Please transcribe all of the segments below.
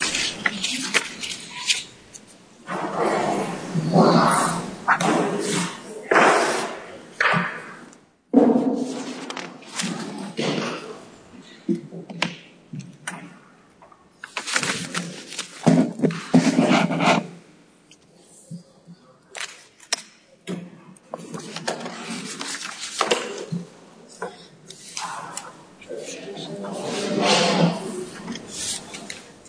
Video link in description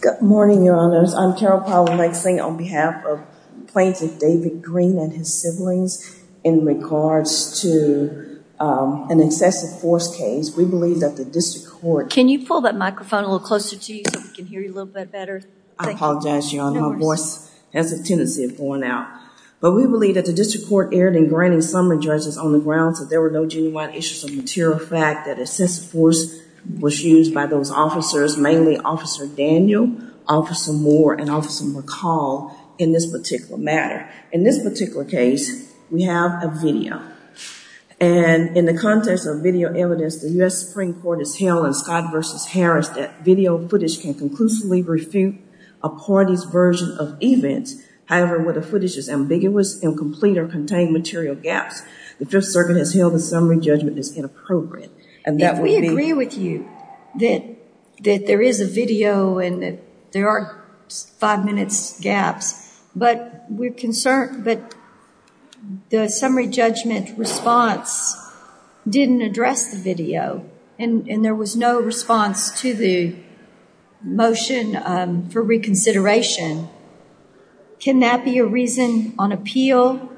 Good morning, your honors. I'm Carol Powell-Langsing on behalf of Plaintiff David Green and his siblings. In regards to an excessive force case, we believe that the district court... Can you pull that microphone a little closer to you so we can hear you a little bit better? I apologize, your honor. My voice has a tendency of going out. But we believe that the district court erred in granting summary judges on the grounds that there were no genuine issues of material fact, that excessive force was used by those officers, mainly Officer Daniel, Officer Moore, and Officer McCall in this particular matter. In this particular case, we have a video. And in the context of video evidence, the U.S. Supreme Court has held in Scott v. Harris that video footage can conclusively refute a party's version of events. However, where the footage is ambiguous, incomplete, or contains material gaps, the Fifth Circuit has held a summary judgment that is inappropriate. If we agree with you that there is a video and there are five minutes gaps, but the summary judgment response didn't address the video, and there was no response to the motion for reconsideration, can that be a reason on appeal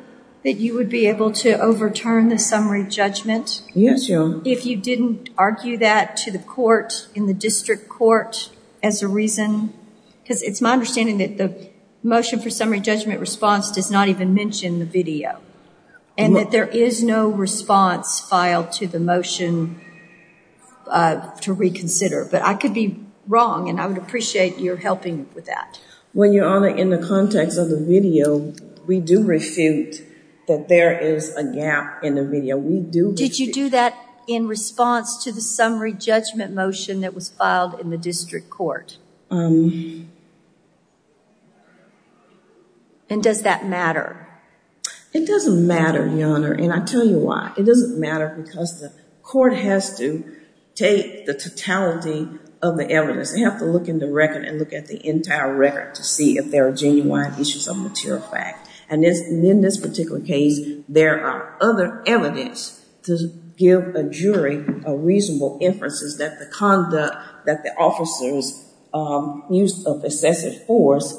that you would be able to overturn the summary judgment? Yes, your honor. If you didn't argue that to the court in the district court as a reason? Because it's my understanding that the motion for summary judgment response does not even mention the video. And that there is no response filed to the motion to reconsider. But I could be wrong, and I would appreciate your helping with that. Well, your honor, in the context of the video, we do refute that there is a gap in the video. Did you do that in response to the summary judgment motion that was filed in the district court? And does that matter? It doesn't matter, your honor, and I'll tell you why. It doesn't matter because the court has to take the totality of the evidence. They have to look in the record and look at the entire record to see if there are genuine issues of material fact. And in this particular case, there are other evidence to give a jury a reasonable inference that the conduct that the officers used of excessive force,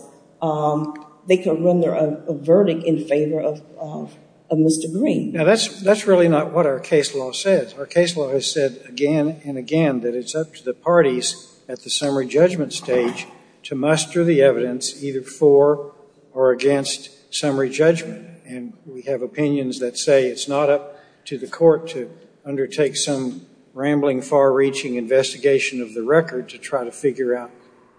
they can render a verdict in favor of Mr. Green. Now, that's really not what our case law says. Our case law has said again and again that it's up to the parties at the summary judgment stage to muster the evidence either for or against summary judgment. And we have opinions that say it's not up to the court to undertake some rambling, far-reaching investigation of the record to try to figure out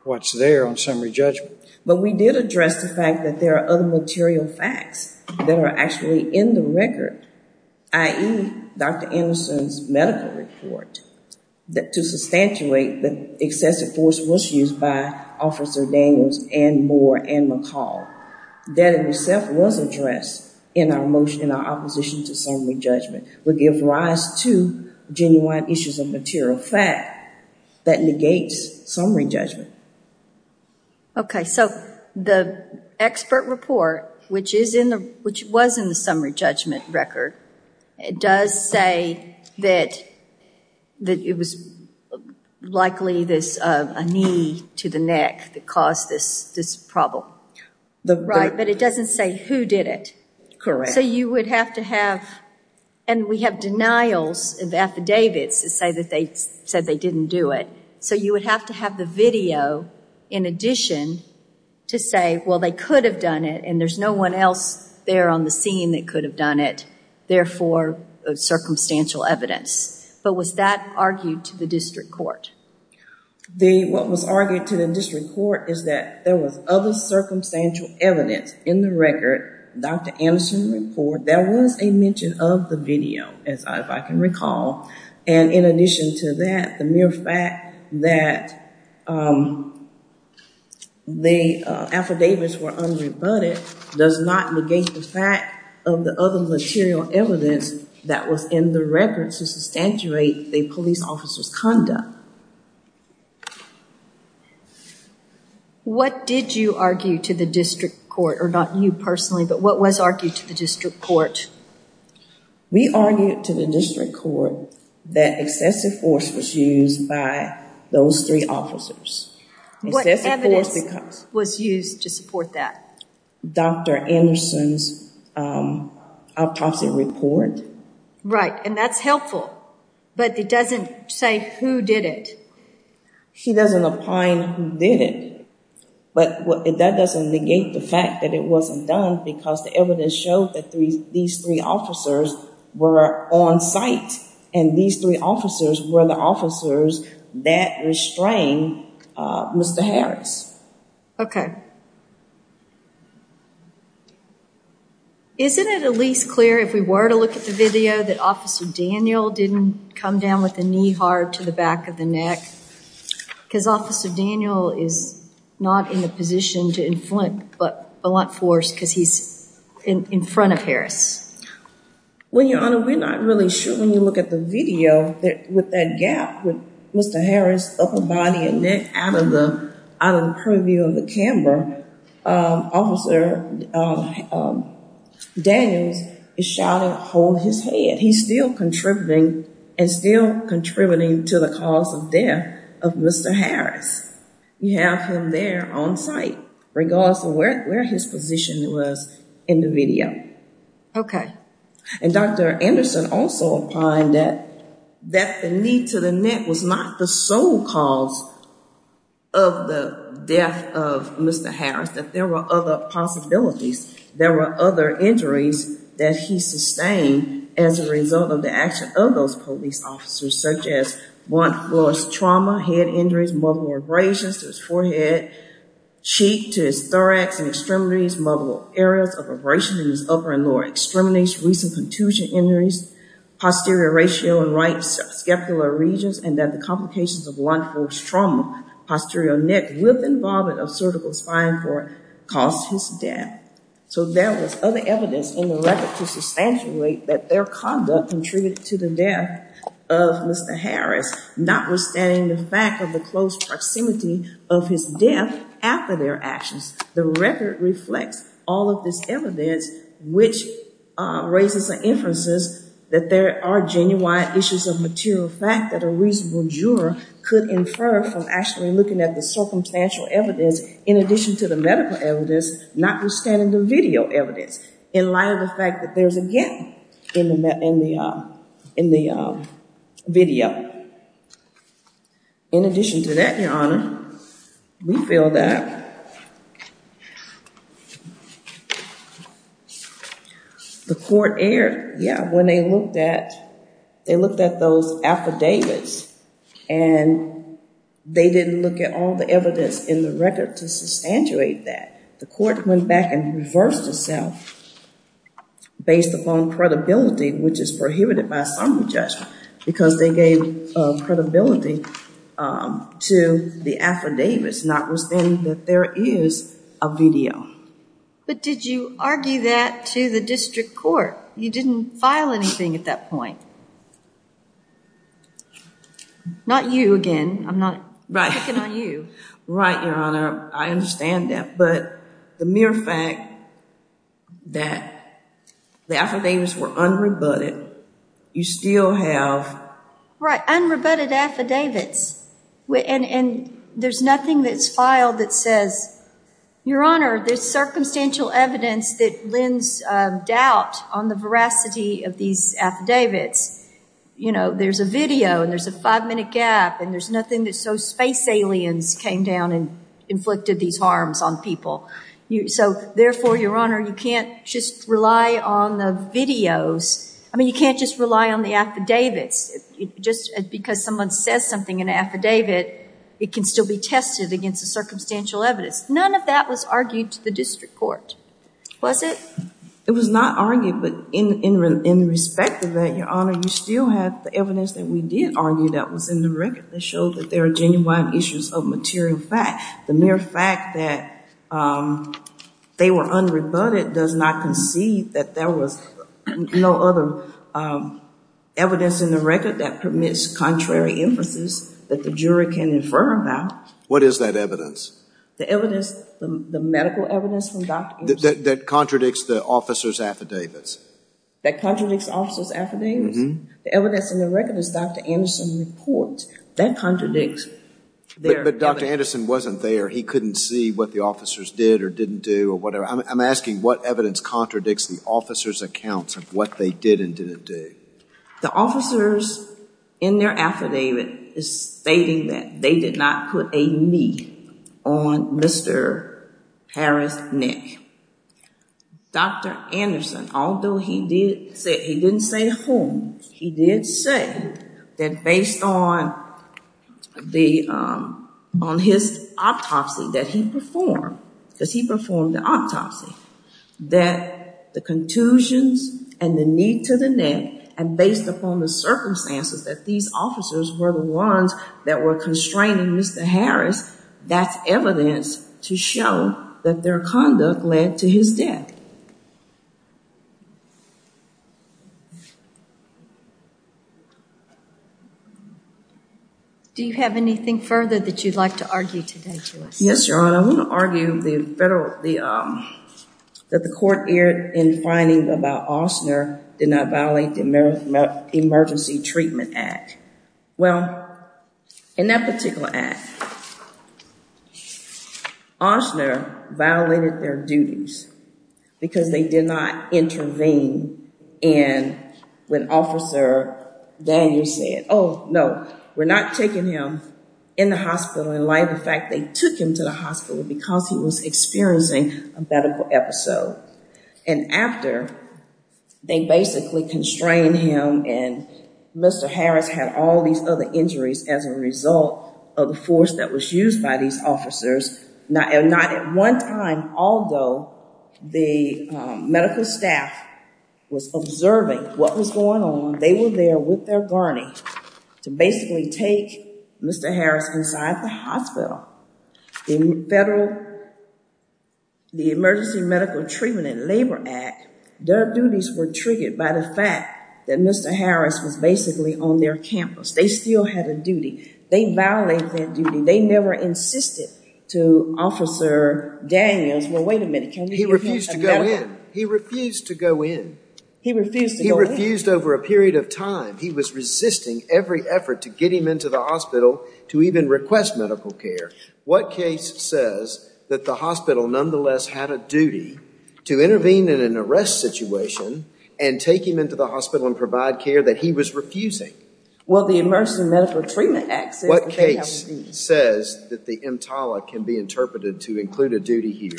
what's there on summary judgment. But we did address the fact that there are other material facts that are actually in the record, i.e., Dr. Anderson's medical report to substantiate that excessive force was used by Officer Daniels and Moore and McCall. That in itself was addressed in our motion, in our opposition to summary judgment, would give rise to genuine issues of material fact that negates summary judgment. Okay. So the expert report, which was in the summary judgment record, does say that it was likely a knee to the neck that caused this problem. Right. But it doesn't say who did it. Correct. So you would have to have, and we have denials of affidavits to say that they said they didn't do it. So you would have to have the video in addition to say, well, they could have done it, and there's no one else there on the scene that could have done it. Therefore, it's circumstantial evidence. But was that argued to the district court? What was argued to the district court is that there was other circumstantial evidence in the record, Dr. Anderson's report. There was a mention of the video, if I can recall. And in addition to that, the mere fact that the affidavits were unrebutted does not negate the fact of the other material evidence that was in the record to substantiate the police officer's conduct. What did you argue to the district court, or not you personally, but what was argued to the district court? We argued to the district court that excessive force was used by those three officers. What evidence was used to support that? Dr. Anderson's autopsy report. Right, and that's helpful, but it doesn't say who did it. He doesn't opine who did it, but that doesn't negate the fact that it wasn't done because the evidence showed that these three officers were on site, and these three officers were the officers that restrained Mr. Harris. Okay. Isn't it at least clear, if we were to look at the video, that Officer Daniel didn't come down with the knee hard to the back of the neck? Because Officer Daniel is not in the position to inflict blunt force because he's in front of Harris. Well, Your Honor, we're not really sure when you look at the video that with that gap with Mr. Harris' upper body and neck out of the preview of the camera, Officer Daniel is shouting, hold his head. He's still contributing, and still contributing to the cause of death of Mr. Harris. You have him there on site, regardless of where his position was in the video. Okay. Okay. And Dr. Anderson also opined that the knee to the neck was not the sole cause of the death of Mr. Harris, that there were other possibilities. There were other injuries that he sustained as a result of the action of those police officers, such as blunt force trauma, head injuries, multiple abrasions to his forehead, cheek to his thorax and extremities, multiple areas of abrasion in his upper and lower extremities, recent contusion injuries, posterior ratio and right scapular regions, and that the complications of blunt force trauma, posterior neck with involvement of cervical spine for it, caused his death. So there was other evidence in the record to substantiate that their conduct contributed to the death of Mr. Harris, notwithstanding the fact of the close proximity of his death after their actions. The record reflects all of this evidence, which raises the inferences that there are genuine issues of material fact that a reasonable juror could infer from actually looking at the circumstantial evidence, in addition to the medical evidence, notwithstanding the video evidence, in light of the fact that there's a gap in the video. In addition to that, Your Honor, we feel that the court erred when they looked at those affidavits and they didn't look at all the evidence in the record to substantiate that. The court went back and reversed itself based upon credibility, which is prohibited by some of the judgment, because they gave credibility to the affidavits, notwithstanding that there is a video. But did you argue that to the district court? You didn't file anything at that point. Not you again. I'm not picking on you. Right, Your Honor. I understand that. But the mere fact that the affidavits were unrebutted, you still have... Right. Unrebutted affidavits. And there's nothing that's filed that says, Your Honor, there's circumstantial evidence that lends doubt on the veracity of these affidavits. There's a video, and there's a five-minute gap, and there's nothing that shows space aliens came down and inflicted these harms on people. So therefore, Your Honor, you can't just rely on the videos. I mean, you can't just rely on the affidavits. Just because someone says something in an affidavit, it can still be tested against the circumstantial evidence. None of that was argued to the district court, was it? It was not argued, but in respect to that, Your Honor, you still have the evidence that we did argue that was in the record that showed that there are genuine issues of material fact. The mere fact that they were unrebutted does not concede that there was no other evidence in the record that permits contrary emphasis that the jury can infer about. What is that evidence? The evidence, the medical evidence from Dr. Gibson. That contradicts the officer's affidavits. That contradicts the officer's affidavits? The evidence in the record is Dr. Anderson's report. That contradicts their evidence. But Dr. Anderson wasn't there. He couldn't see what the officers did or didn't do or whatever. I'm asking what evidence contradicts the officers' accounts of what they did and didn't do. The officers in their affidavit is stating that they did not put a knee on Mr. Harris' neck. Dr. Anderson, although he didn't say whom, he did say that based on his autopsy that he performed, because he performed the autopsy, that the contusions and the knee to the neck and based upon the circumstances that these officers were the ones that were constraining Mr. Harris, that's evidence to show that their conduct led to his death. Do you have anything further that you'd like to argue today, Joyce? Yes, Your Honor. I want to argue that the court erred in finding that Austner did not violate the Emergency Treatment Act. Well, in that particular act, Austner violated their duties because they did not intervene in when Officer Daniels said, oh, no, we're not taking him in the hospital. In fact, they took him to the hospital because he was experiencing a medical episode. And after, they basically constrained him and Mr. Harris had all these other injuries as a result of the force that was used by these officers. Not at one time, although the medical staff was observing what was going on, they were there with their gurney to basically take Mr. Harris inside the hospital. In federal, the Emergency Medical Treatment and Labor Act, their duties were triggered by the fact that Mr. Harris was basically on their campus. They still had a duty. They violated that duty. They never insisted to Officer Daniels, well, wait a minute, can we give him a medical? He refused to go in. He refused to go in. He refused over a period of time. He was resisting every effort to get him into the hospital to even request medical care. What case says that the hospital nonetheless had a duty to intervene in an arrest situation and take him into the hospital and provide care that he was refusing? Well, the Emergency Medical Treatment Act says that they have a duty. What case says that the EMTALA can be interpreted to include a duty here?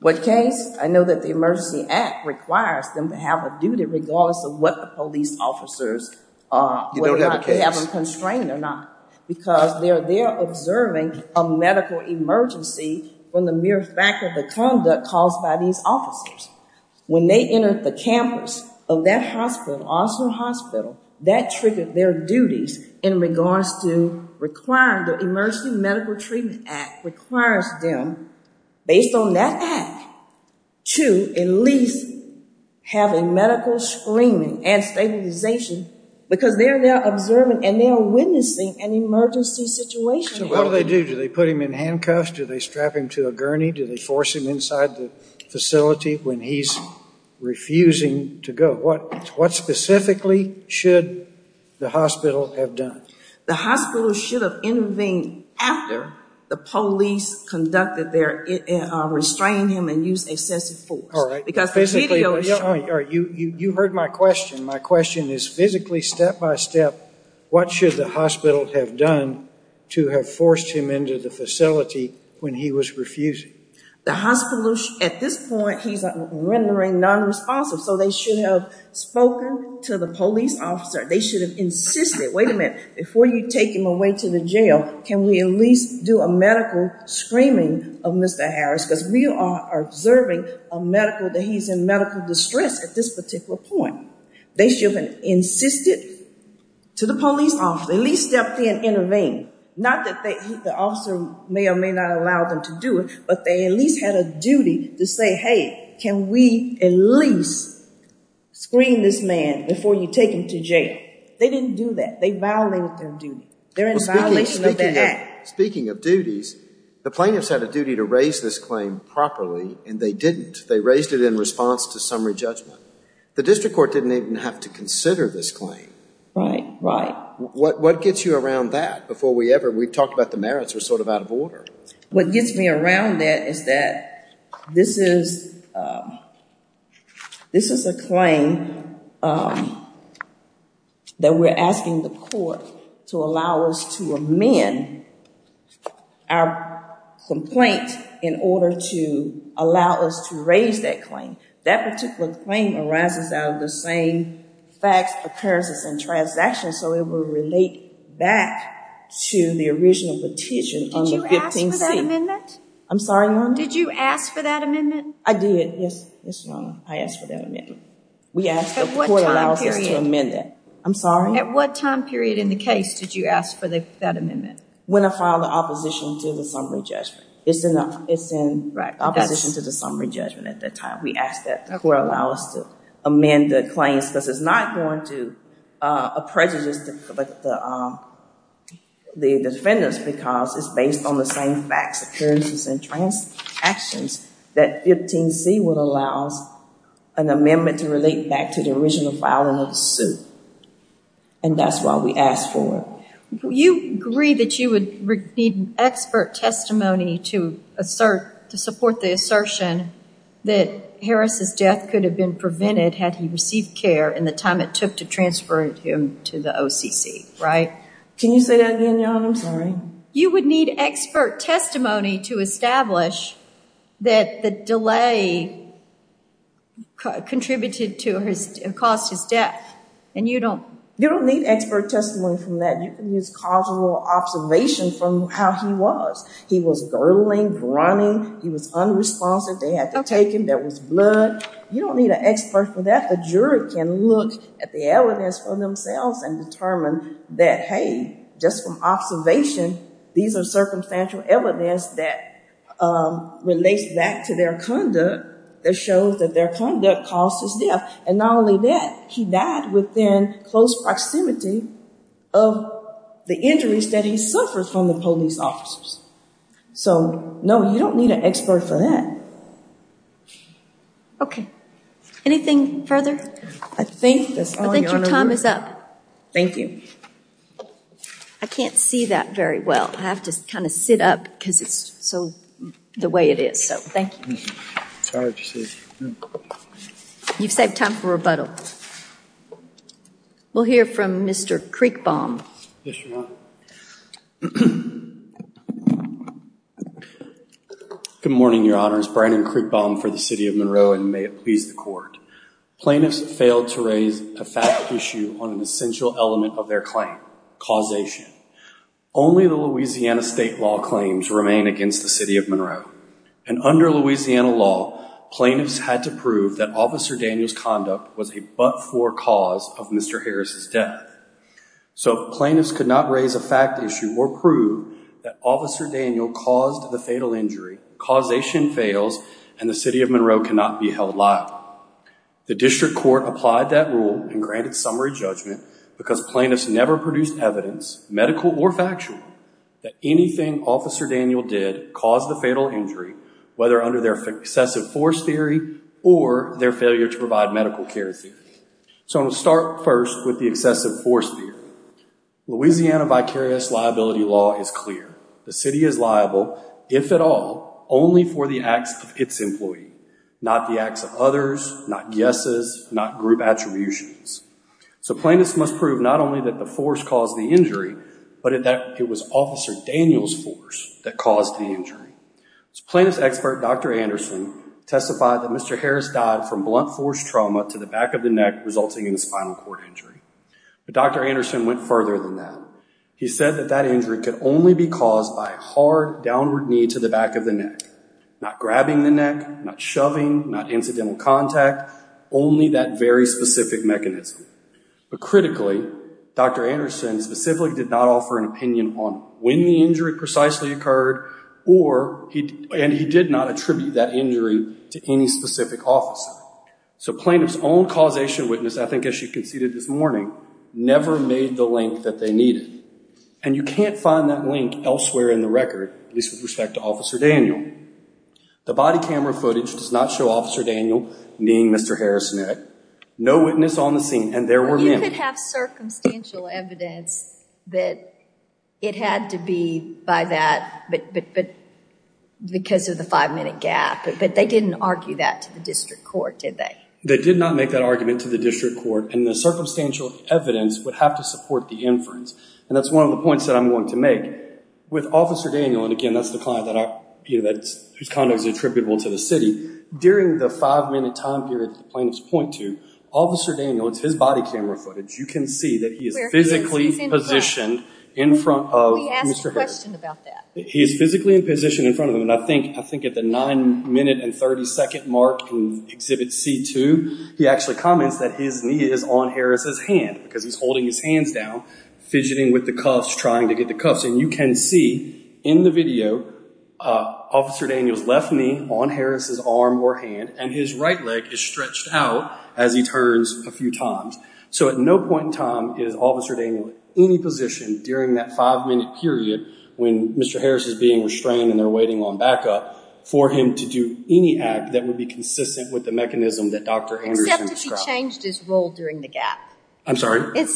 What case? I know that the Emergency Act requires them to have a duty regardless of what the police officers, whether or not they have them constrained or not. Because they're there observing a medical emergency from the mere fact of the conduct caused by these officers. When they entered the campus of that hospital, Austin Hospital, that triggered their duties in regards to requiring the Emergency Medical Treatment Act requires them, based on that act, to at least have a medical screening and stabilization. Because they're there observing and they're witnessing an emergency situation. So what do they do? Do they put him in handcuffs? Do they strap him to a gurney? Do they force him inside the facility when he's refusing to go? What specifically should the hospital have done? The hospital should have intervened after the police conducted their restraining him and used excessive force. You heard my question. My question is physically, step by step, what should the hospital have done to have forced him into the facility when he was refusing? The hospital, at this point, he's rendering non-responsive. So they should have spoken to the police officer. They should have insisted, wait a minute, before you take him away to the jail, can we at least do a medical screening of Mr. Harris? Because we are observing a medical, that he's in medical distress at this particular point. They should have insisted to the police officer, at least step in and intervene. Not that the officer may or may not allow them to do it, but they at least had a duty to say, hey, can we at least screen this man before you take him to jail? They didn't do that. They violated their duty. They're in violation of their act. Speaking of duties, the plaintiffs had a duty to raise this claim properly and they didn't. They raised it in response to summary judgment. The district court didn't even have to consider this claim. Right, right. What gets you around that before we ever, we talked about the merits are sort of out of order. What gets me around that is that this is a claim that we're asking the court to allow us to amend our complaint in order to allow us to raise that claim. That particular claim arises out of the same facts, occurrences, and transactions, so it will relate back to the original petition on the 15C. Did you ask for that amendment? I'm sorry, Your Honor? Did you ask for that amendment? I did, yes. Yes, Your Honor, I asked for that amendment. We asked the court to allow us to amend that. At what time period in the case did you ask for that amendment? When I filed the opposition to the summary judgment. It's in opposition to the summary judgment at that time. We asked that the court allow us to amend the claims because it's not going to prejudice the defendants because it's based on the same facts, occurrences, and transactions that 15C would allow us an amendment to relate back to the original filing of the suit. And that's why we asked for it. You agree that you would need expert testimony to support the assertion that Harris' death could have been prevented had he received care in the time it took to transfer him to the OCC, right? Can you say that again, Your Honor? I'm sorry. You would need expert testimony to establish that the delay contributed to or caused his death. You don't need expert testimony from that. You can use causal observation from how he was. He was girdling, grunting. He was unresponsive. They had to take him. There was blood. You don't need an expert for that. The juror can look at the evidence for themselves and determine that, hey, just from observation, these are circumstantial evidence that relates back to their conduct that shows that their conduct caused his death. And not only that, he died within close proximity of the injuries that he suffered from the police officers. So, no, you don't need an expert for that. Okay. Anything further? I think that's all, Your Honor. I think your time is up. Thank you. I can't see that very well. I have to kind of sit up because it's so the way it is. So, thank you. I'm sorry. You've saved time for rebuttal. We'll hear from Mr. Kriegbaum. Yes, Your Honor. Good morning, Your Honors. Brandon Kriegbaum for the City of Monroe, and may it please the Court. Plaintiffs failed to raise a fact issue on an essential element of their claim, causation. Only the Louisiana state law claims remain against the City of Monroe. And under Louisiana law, plaintiffs had to prove that Officer Daniel's conduct was a but-for cause of Mr. Harris' death. So, plaintiffs could not raise a fact issue or prove that Officer Daniel caused the fatal injury, causation fails, and the City of Monroe cannot be held liable. The District Court applied that rule and granted summary judgment because plaintiffs never produced evidence, medical or factual, that anything Officer Daniel did caused the fatal injury, whether under their excessive force theory or their failure to provide medical care theory. So, I'm going to start first with the excessive force theory. Louisiana vicarious liability law is clear. The City is liable, if at all, only for the acts of its employee, not the acts of others, not guesses, not group attributions. So, plaintiffs must prove not only that the force caused the injury, but that it was Officer Daniel's force that caused the injury. Plaintiff's expert, Dr. Anderson, testified that Mr. Harris died from blunt force trauma to the back of the neck, resulting in a spinal cord injury. But Dr. Anderson went further than that. He said that that injury could only be caused by a hard, downward knee to the back of the neck. Not grabbing the neck, not shoving, not incidental contact, only that very specific mechanism. But critically, Dr. Anderson specifically did not offer an opinion on when the injury precisely occurred, and he did not attribute that injury to any specific officer. So, plaintiff's own causation witness, I think as she conceded this morning, never made the link that they needed. And you can't find that link elsewhere in the record, at least with respect to Officer Daniel. The body camera footage does not show Officer Daniel kneeing Mr. Harris' neck. No witness on the scene, and there were many. They could have circumstantial evidence that it had to be by that, but because of the five-minute gap. But they didn't argue that to the district court, did they? They did not make that argument to the district court, and the circumstantial evidence would have to support the inference. And that's one of the points that I'm going to make. With Officer Daniel, and again, that's the client whose conduct is attributable to the city. During the five-minute time period that the plaintiffs point to, Officer Daniel, it's his body camera footage. You can see that he is physically positioned in front of Mr. Harris. We asked a question about that. He is physically in position in front of him, and I think at the 9 minute and 30 second mark in Exhibit C2, he actually comments that his knee is on Harris' hand, because he's holding his hands down, fidgeting with the cuffs, trying to get the cuffs in. And you can see in the video, Officer Daniel's left knee on Harris' arm or hand, and his right leg is stretched out as he turns a few times. So at no point in time is Officer Daniel in any position during that five-minute period, when Mr. Harris is being restrained and they're waiting on backup, for him to do any act that would be consistent with the mechanism that Dr. Anderson described. Except if he changed his role during the gap. I'm sorry? We don't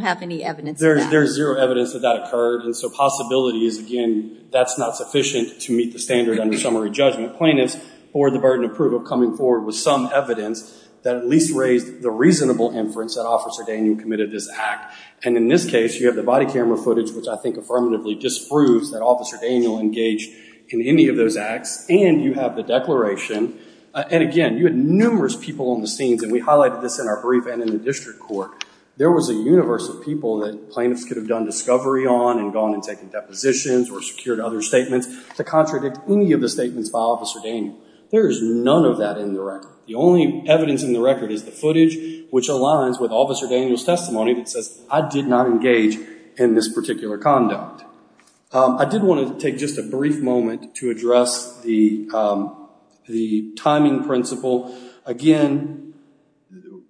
have any evidence of that. There's zero evidence that that occurred, and so possibility is, again, that's not sufficient to meet the standard under summary judgment. Plaintiffs, for the burden of proof of coming forward with some evidence, that at least raised the reasonable inference that Officer Daniel committed this act. And in this case, you have the body camera footage, which I think affirmatively disproves that Officer Daniel engaged in any of those acts. And you have the declaration. And again, you had numerous people on the scenes, and we highlighted this in our brief and in the district court. There was a universe of people that plaintiffs could have done discovery on, and gone and taken depositions, or secured other statements, to contradict any of the statements by Officer Daniel. There is none of that in the record. The only evidence in the record is the footage, which aligns with Officer Daniel's testimony that says, I did not engage in this particular conduct. I did want to take just a brief moment to address the timing principle. Again,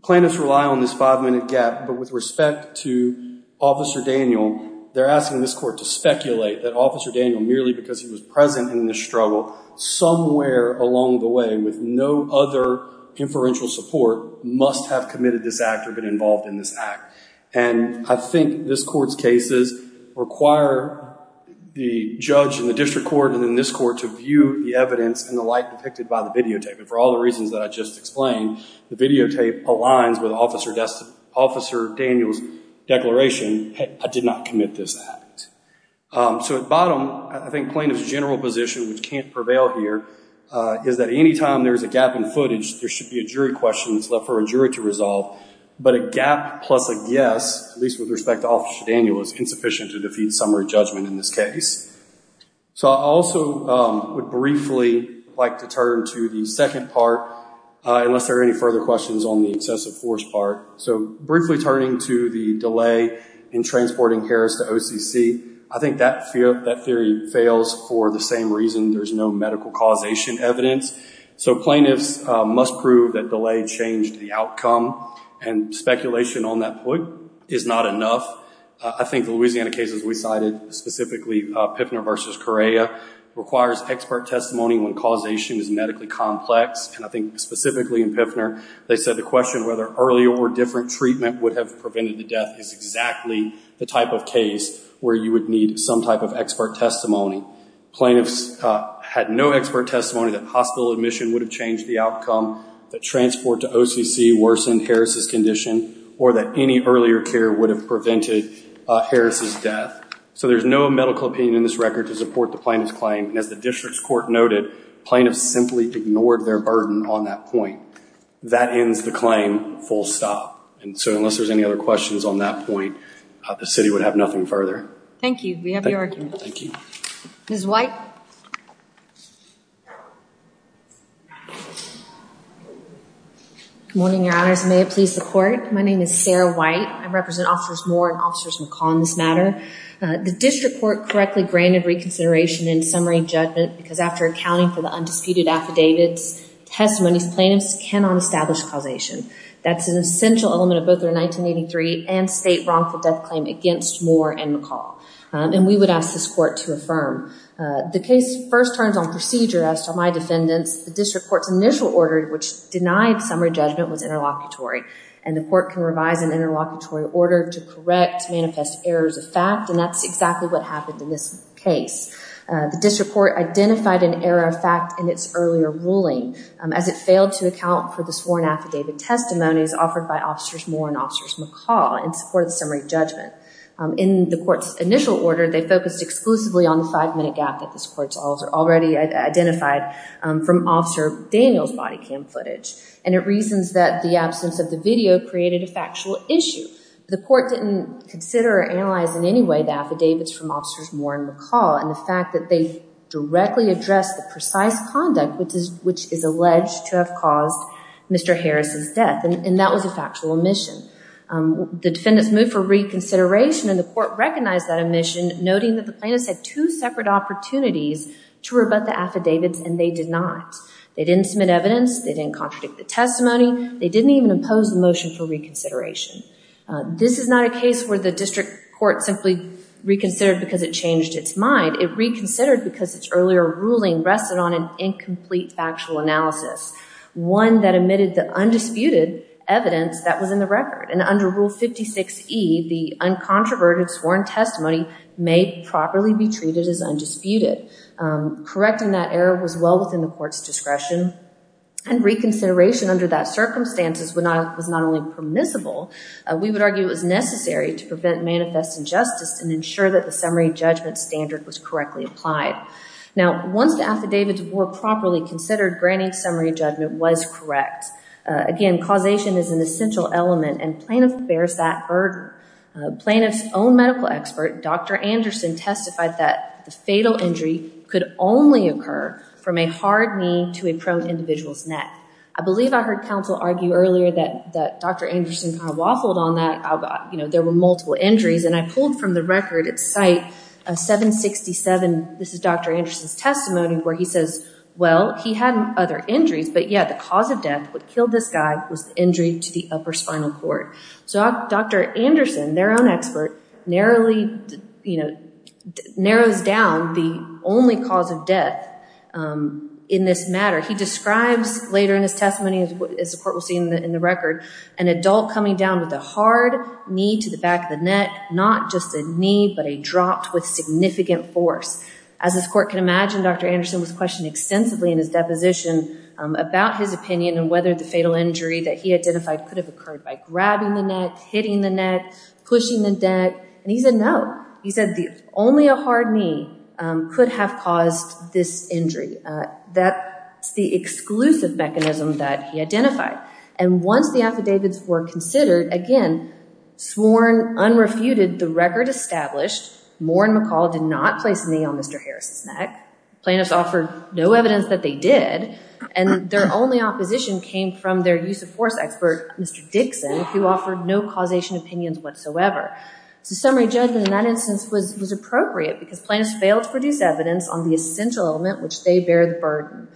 plaintiffs rely on this five-minute gap. But with respect to Officer Daniel, they're asking this court to speculate that Officer Daniel, merely because he was present in this struggle, somewhere along the way, with no other inferential support, must have committed this act or been involved in this act. And I think this court's cases require the judge in the district court and in this court to view the evidence in the light depicted by the videotape. And for all the reasons that I just explained, the videotape aligns with Officer Daniel's declaration, I did not commit this act. So at bottom, I think plaintiff's general position, which can't prevail here, is that any time there's a gap in footage, there should be a jury question that's left for a jury to resolve. But a gap plus a guess, at least with respect to Officer Daniel, is insufficient to defeat summary judgment in this case. So I also would briefly like to turn to the second part, unless there are any further questions on the excessive force part. So briefly turning to the delay in transporting Harris to OCC, I think that theory fails for the same reason, there's no medical causation evidence. So plaintiffs must prove that delay changed the outcome, and speculation on that point is not enough. I think the Louisiana case, as we cited, specifically Piffner v. Correa, requires expert testimony when causation is medically complex. And I think specifically in Piffner, they said the question whether earlier or different treatment would have prevented the death is exactly the type of case where you would need some type of expert testimony. Plaintiffs had no expert testimony that hospital admission would have changed the outcome, that transport to OCC worsened Harris' condition, or that any earlier care would have prevented Harris' death. So there's no medical opinion in this record to support the plaintiff's claim. And as the district's court noted, plaintiffs simply ignored their burden on that point. That ends the claim, full stop. And so unless there's any other questions on that point, the city would have nothing further. Thank you. We have your argument. Thank you. Ms. White. Good morning, Your Honors. My name is Sarah White. I represent Officers Moore and Officers McCall in this matter. The district court correctly granted reconsideration in summary judgment because after accounting for the undisputed affidavits, testimonies, plaintiffs cannot establish causation. That's an essential element of both their 1983 and state wrongful death claim against Moore and McCall. And we would ask this court to affirm. The case first turns on procedure as to my defendants. The district court's initial order, which denied summary judgment, was interlocutory. And the court can revise an interlocutory order to correct manifest errors of fact, and that's exactly what happened in this case. The district court identified an error of fact in its earlier ruling as it failed to account for the sworn affidavit testimonies offered by Officers Moore and Officers McCall in support of the summary judgment. In the court's initial order, they focused exclusively on the five-minute gap that this court already identified from Officer Daniel's body cam footage. And it reasons that the absence of the video created a factual issue. The court didn't consider or analyze in any way the affidavits from Officers Moore and McCall, and the fact that they directly addressed the precise conduct which is alleged to have caused Mr. Harris' death, and that was a factual omission. The defendants moved for reconsideration, and the court recognized that omission, noting that the plaintiffs had two separate opportunities to rebut the affidavits, and they did not. They didn't submit evidence. They didn't contradict the testimony. There was a motion for reconsideration. This is not a case where the district court simply reconsidered because it changed its mind. It reconsidered because its earlier ruling rested on an incomplete factual analysis, one that omitted the undisputed evidence that was in the record, and under Rule 56E, the uncontroverted sworn testimony may properly be treated as undisputed. Correcting that error was well within the court's discretion, and reconsideration under that circumstances was not only permissible, we would argue it was necessary to prevent manifest injustice and ensure that the summary judgment standard was correctly applied. Now, once the affidavits were properly considered, granting summary judgment was correct. Again, causation is an essential element, and plaintiff bears that burden. Plaintiff's own medical expert, Dr. Anderson, testified that the fatal injury could only occur from a hard knee to a prone individual's neck. I believe I heard counsel argue earlier that Dr. Anderson kind of waffled on that. You know, there were multiple injuries, and I pulled from the record at Site 767, this is Dr. Anderson's testimony, where he says, well, he had other injuries, but yet the cause of death, what killed this guy, was the injury to the upper spinal cord. So Dr. Anderson, their own expert, narrowly, you know, narrows down the only cause of death in this matter. He describes later in his testimony, as the court will see in the record, an adult coming down with a hard knee to the back of the neck, not just a knee, but a drop with significant force. As this court can imagine, Dr. Anderson was questioned extensively in his deposition about his opinion and whether the fatal injury that he identified could have occurred by grabbing the neck, hitting the neck, pushing the neck, and he said no. He said only a hard knee could have caused this injury. That's the exclusive mechanism that he identified. And once the affidavits were considered, again, sworn, unrefuted, the record established, Moore and McCall did not place a knee on Mr. Harris's neck. Plaintiffs offered no evidence that they did, and their only opposition came from their use of force expert, Mr. Dixon, who offered no causation opinions whatsoever. So summary judgment in that instance was appropriate because plaintiffs failed to produce evidence on the essential element which they bear the burden.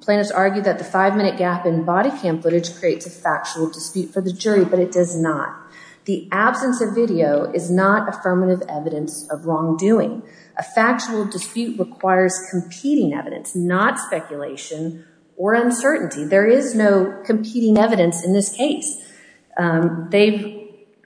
Plaintiffs argued that the five-minute gap in body cam footage creates a factual dispute for the jury, but it does not. The absence of video is not affirmative evidence of wrongdoing. A factual dispute requires competing evidence, not speculation or uncertainty. There is no competing evidence in this case. They've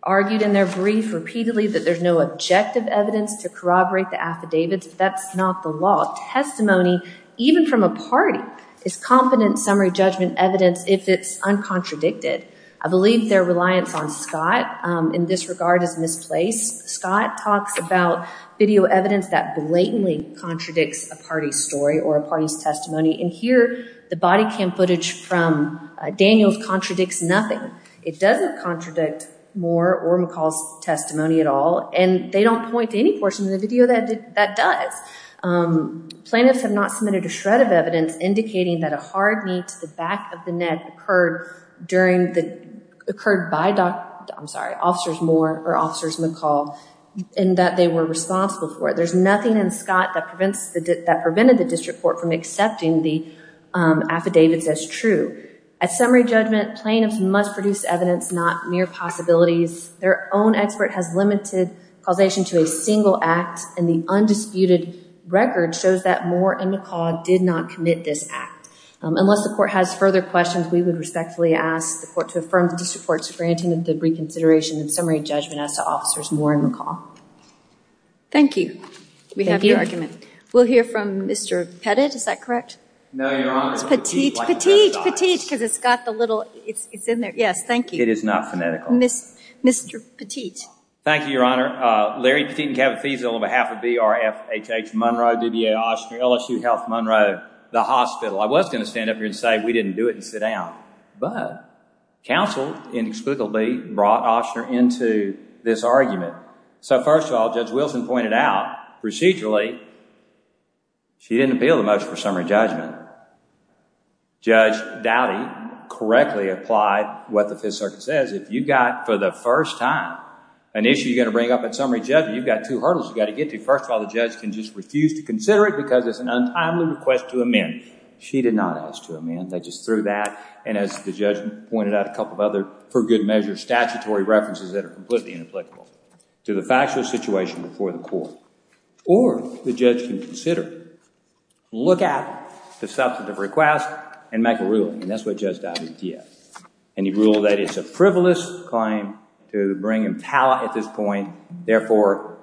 argued in their brief repeatedly that there's no objective evidence to corroborate the affidavits, but that's not the law. Testimony, even from a party, is confident summary judgment evidence if it's uncontradicted. I believe their reliance on Scott in this regard is misplaced. Scott talks about video evidence that blatantly contradicts a party's story or a party's testimony, and here, the body cam footage from Daniels contradicts nothing. It doesn't contradict Moore or McCall's testimony at all, and they don't point to any portion of the video that does. Plaintiffs have not submitted a shred of evidence indicating that a hard knee to the back of the neck occurred by officers Moore or officers McCall and that they were responsible for it. There's nothing in Scott that prevented the district court from accepting the affidavits as true. At summary judgment, plaintiffs must produce evidence not mere possibilities. Their own expert has limited causation to a single act, and the undisputed record shows that Moore and McCall did not commit this act. Unless the court has further questions, we would respectfully ask the court to affirm the district court's granting of the reconsideration of summary judgment as to officers Moore and McCall. Thank you. We'll hear from Mr. Petit. Is that correct? Petit, Petit, Petit, because it's got the little, it's in there. Yes, thank you. Mr. Petit. Thank you, Your Honor. Larry Petit and Kevin Feasel on behalf of B.R.F. H.H. Monroe, D.B.A. Oshner, LSU Health Monroe, the hospital, I was going to stand up here and say we didn't do it and sit down, but counsel inexplicably brought Oshner into this argument. So first of all, Judge Wilson pointed out procedurally she didn't appeal the motion for summary judgment. Judge Dowdy correctly applied what the Fifth Circuit says. If you've got, for the first time, an issue you're going to bring up at summary judgment, you've got two hurdles you've got to get to. First of all, the judge can just refuse to consider it because it's an untimely request to amend. She did not ask to amend. They just threw that, and as the judge pointed out, a couple of other, for good measure, statutory references that are completely inapplicable to the factual situation before the court. Or the judge can consider, look at the substantive request and make a ruling, and that's what Judge Dowdy did. And he ruled that it's a frivolous claim and that's how, at this point, therefore,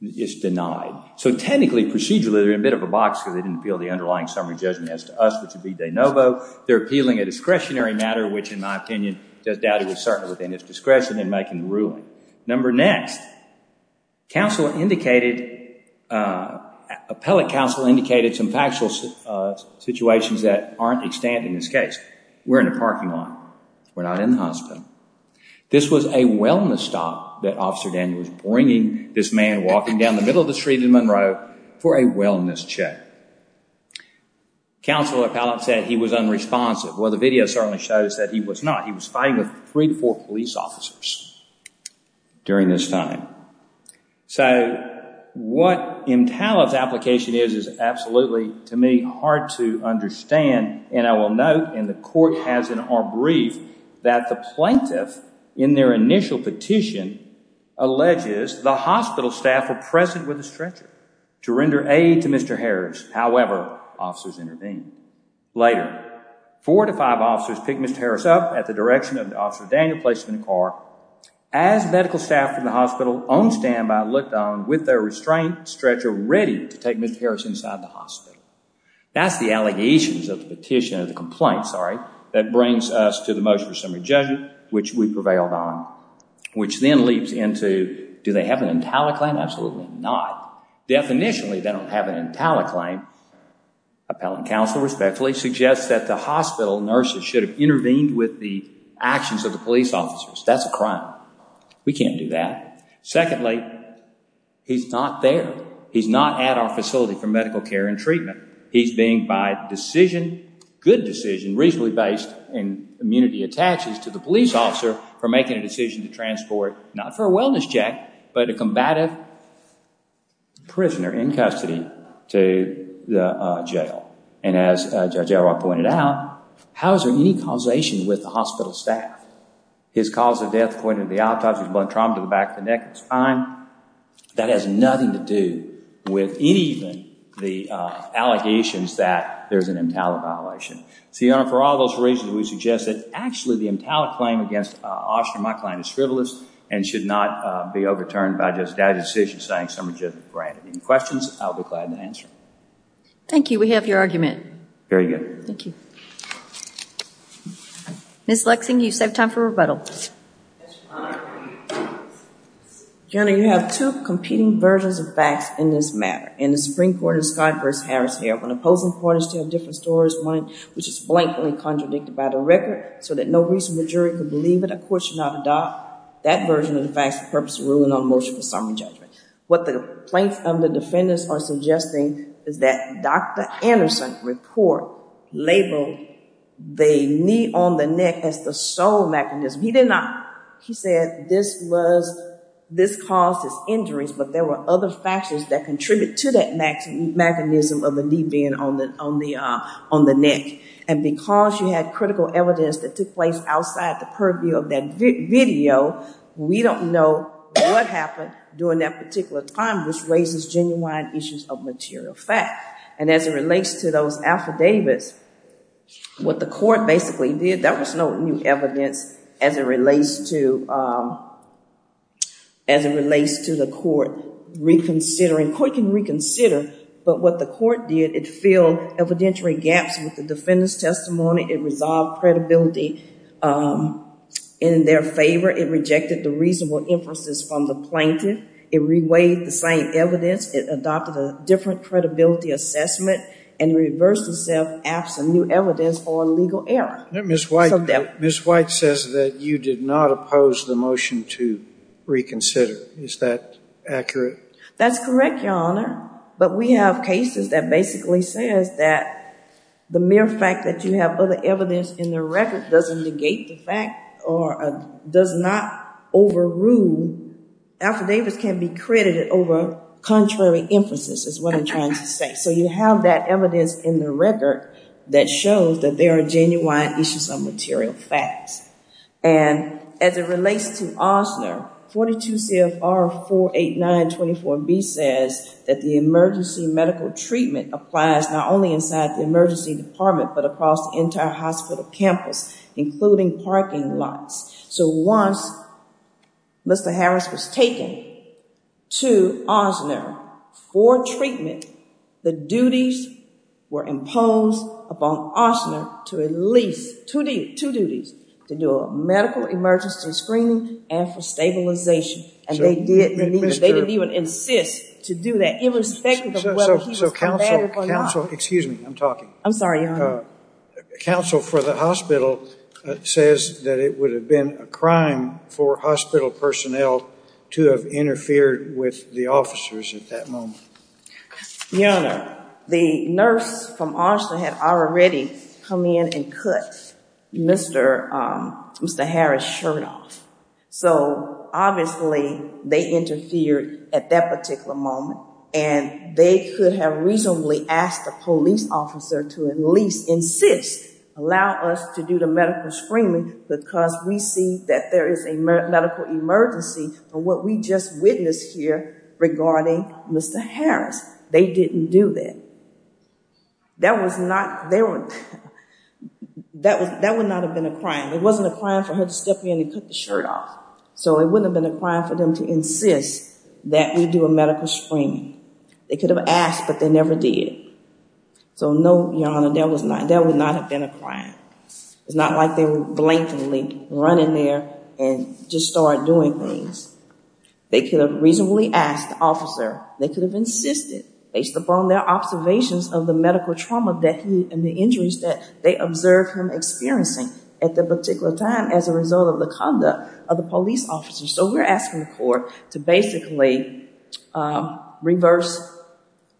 it's denied. So technically, procedurally, they're in a bit of a box because they didn't appeal the underlying summary judgment as to us, which would be de novo. They're appealing a discretionary matter, which, in my opinion, Judge Dowdy was certain within his discretion in making the ruling. Number next, appellate counsel indicated some factual situations that aren't extant in this case. We're in a parking lot. We're not in the hospital. We're in a road stop that Officer Daniels is bringing this man walking down the middle of the street in Monroe for a wellness check. Counselor Appellate said he was unresponsive. Well, the video certainly shows that he was not. He was fighting with three to four police officers during this time. So, what Imtialov's application is is absolutely, to me, hard to understand, and I will note, and the court has in our brief that the plaintiff, in their initial petition, alleges the hospital staff were present with the stretcher to render aid to Mr. Harris. However, officers intervened. Later, four to five officers picked Mr. Harris up at the direction of Officer Daniels placing him in a car. As medical staff from the hospital on standby looked on with their restraint stretcher ready to take Mr. Harris inside the hospital. That's the allegations of the petition, of the complaint, sorry. That brings us to the motion for summary judgment which we prevailed on, which then leaps into do they have an Intialov claim? Absolutely not. Definitionally, they don't have an Intialov claim. Appellant Counsel respectfully suggests that the hospital nurses should have intervened with the actions of the police officers. That's a crime. We can't do that. Secondly, he's not there. He's not at our facility for medical care and treatment. He's being by decision, good decision, reasonably based in immunity of taxes to the police officer for making a decision to transport not for a wellness check but a combative prisoner in custody to the jail. And as Judge Elroy pointed out, how is there any causation with the hospital staff? His cause of death according to the autopsy was blunt trauma to the back of the neck and the spine. That has nothing to do with any of the allegations that there's an Intialov violation. So, Your Honor, for all those reasons we suggest that actually the Intialov claim against my client is frivolous and should not be overturned by Judge's decision saying some are just granted. Any questions? I'll be glad to answer. Thank you. We have your argument. Very good. Thank you. Ms. Lexing, you save time for rebuttal. Your Honor, you have two competing versions of facts in this matter. In the Supreme Court in this conference, Harris here, when opposing parties tell different stories, one which is blankly contradicted by the record so that no reasonable jury could believe it, a court should not adopt that version of the facts for purpose of ruling on a motion for summary judgment. What the plaintiffs and the defendants are suggesting is that Dr. Anderson report labeled the knee on the neck as the sole mechanism. He did not. He said this was, this caused his injuries, but there were other factors that contribute to that mechanism of the knee being on the neck. And because you had critical evidence that took place outside the purview of that video, we don't know what happened during that particular time which raises genuine issues of material fact. And as it relates to those affidavits, what the court basically did, there was no new evidence as it relates to the court reconsidering. The court can reconsider, but what the court did, it filled evidentiary gaps with the defendant's testimony. It resolved credibility in their favor. It rejected the reasonable inferences from the plaintiff. It reweighed the same evidence. It adopted a different credibility assessment and reversed itself after new evidence or legal error. Ms. White says that you did not oppose the motion to reconsider. Is that accurate? That's correct, Your Honor. But we have cases that basically says that the mere fact that you have other evidence in the record doesn't negate the fact or does not overrule. Affidavits can be credited over contrary inferences is what I'm trying to say. So you have that evidence in the record that shows that there are genuine issues of material facts. And as it relates to Osler, 42 CFR 48924B says that the emergency medical treatment applies not only inside the emergency department but across the entire hospital campus including parking lots. So once Mr. Harris was taken to Osler for treatment the duties were imposed upon Osler to at least two duties to do a medical emergency screening and for stabilization. And they didn't even insist to do that irrespective of whether he was combated or not. Excuse me. I'm talking. I'm sorry, Your Honor. Counsel for the says that it would have been a crime for hospital personnel to have interfered with the officers at that moment. Your Honor, the nurse from Osler had already come in and cut Mr. Harris' shirt off. So obviously they interfered at that particular moment and they could have reasonably asked the police officer to at least insist allow us to do the medical screening because we see that there is a medical emergency for what we just witnessed here regarding Mr. Harris. They didn't do that. That was not there. That would not have been a crime. It wasn't a crime for her to step in and cut the shirt off. So it wouldn't have been a crime for them to insist that we do a medical screening. They could have asked but they never did. So no, Your Honor, that would not have been a crime. It's not like they would blatantly run in there and just start doing things. They could have reasonably asked the They could have insisted based upon their observations of the medical trauma and the injuries that they observed him experiencing at that particular time as a result of the conduct of the police officer. So we're asking the court to basically reverse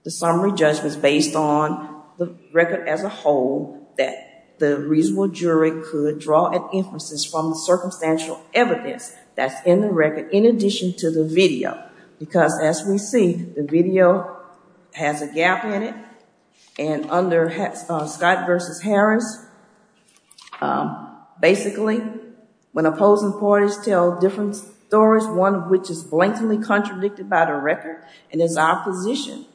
the summary judgments based on the record as a whole that the reasonable jury could draw an emphasis from the circumstantial evidence that's in the record in addition to the video. Because as we see, has a gap in it and under Scott versus Harris, basically when opposing parties tell different stories, one of which is blatantly contradicted by the record and is our position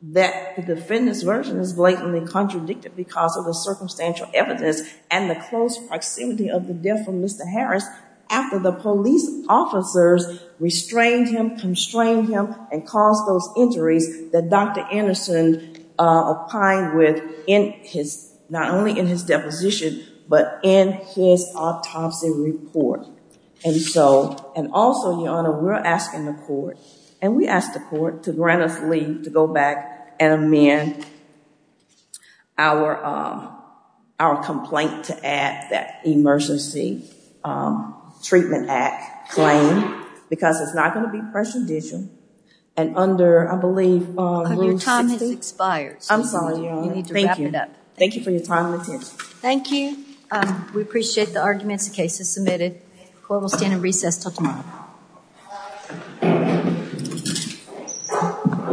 that the defendant's version is blatantly contradicted because of the circumstantial evidence and the close proximity of the death of Mr. Harris after the police officers restrained him, him, and caused those injuries that Dr. Anderson opined with not only in his deposition but in his autopsy report. And also, we're asking the court to grant us leave to go back and our complaint to add that emergency treatment act claim because it's not going to be prejudicial and under, I believe, Your time has expired. I'm sorry, Your Honor. Thank you. Thank you for your time and attention. Thank you. We appreciate the arguments submitted. The court will stand in recess until tomorrow.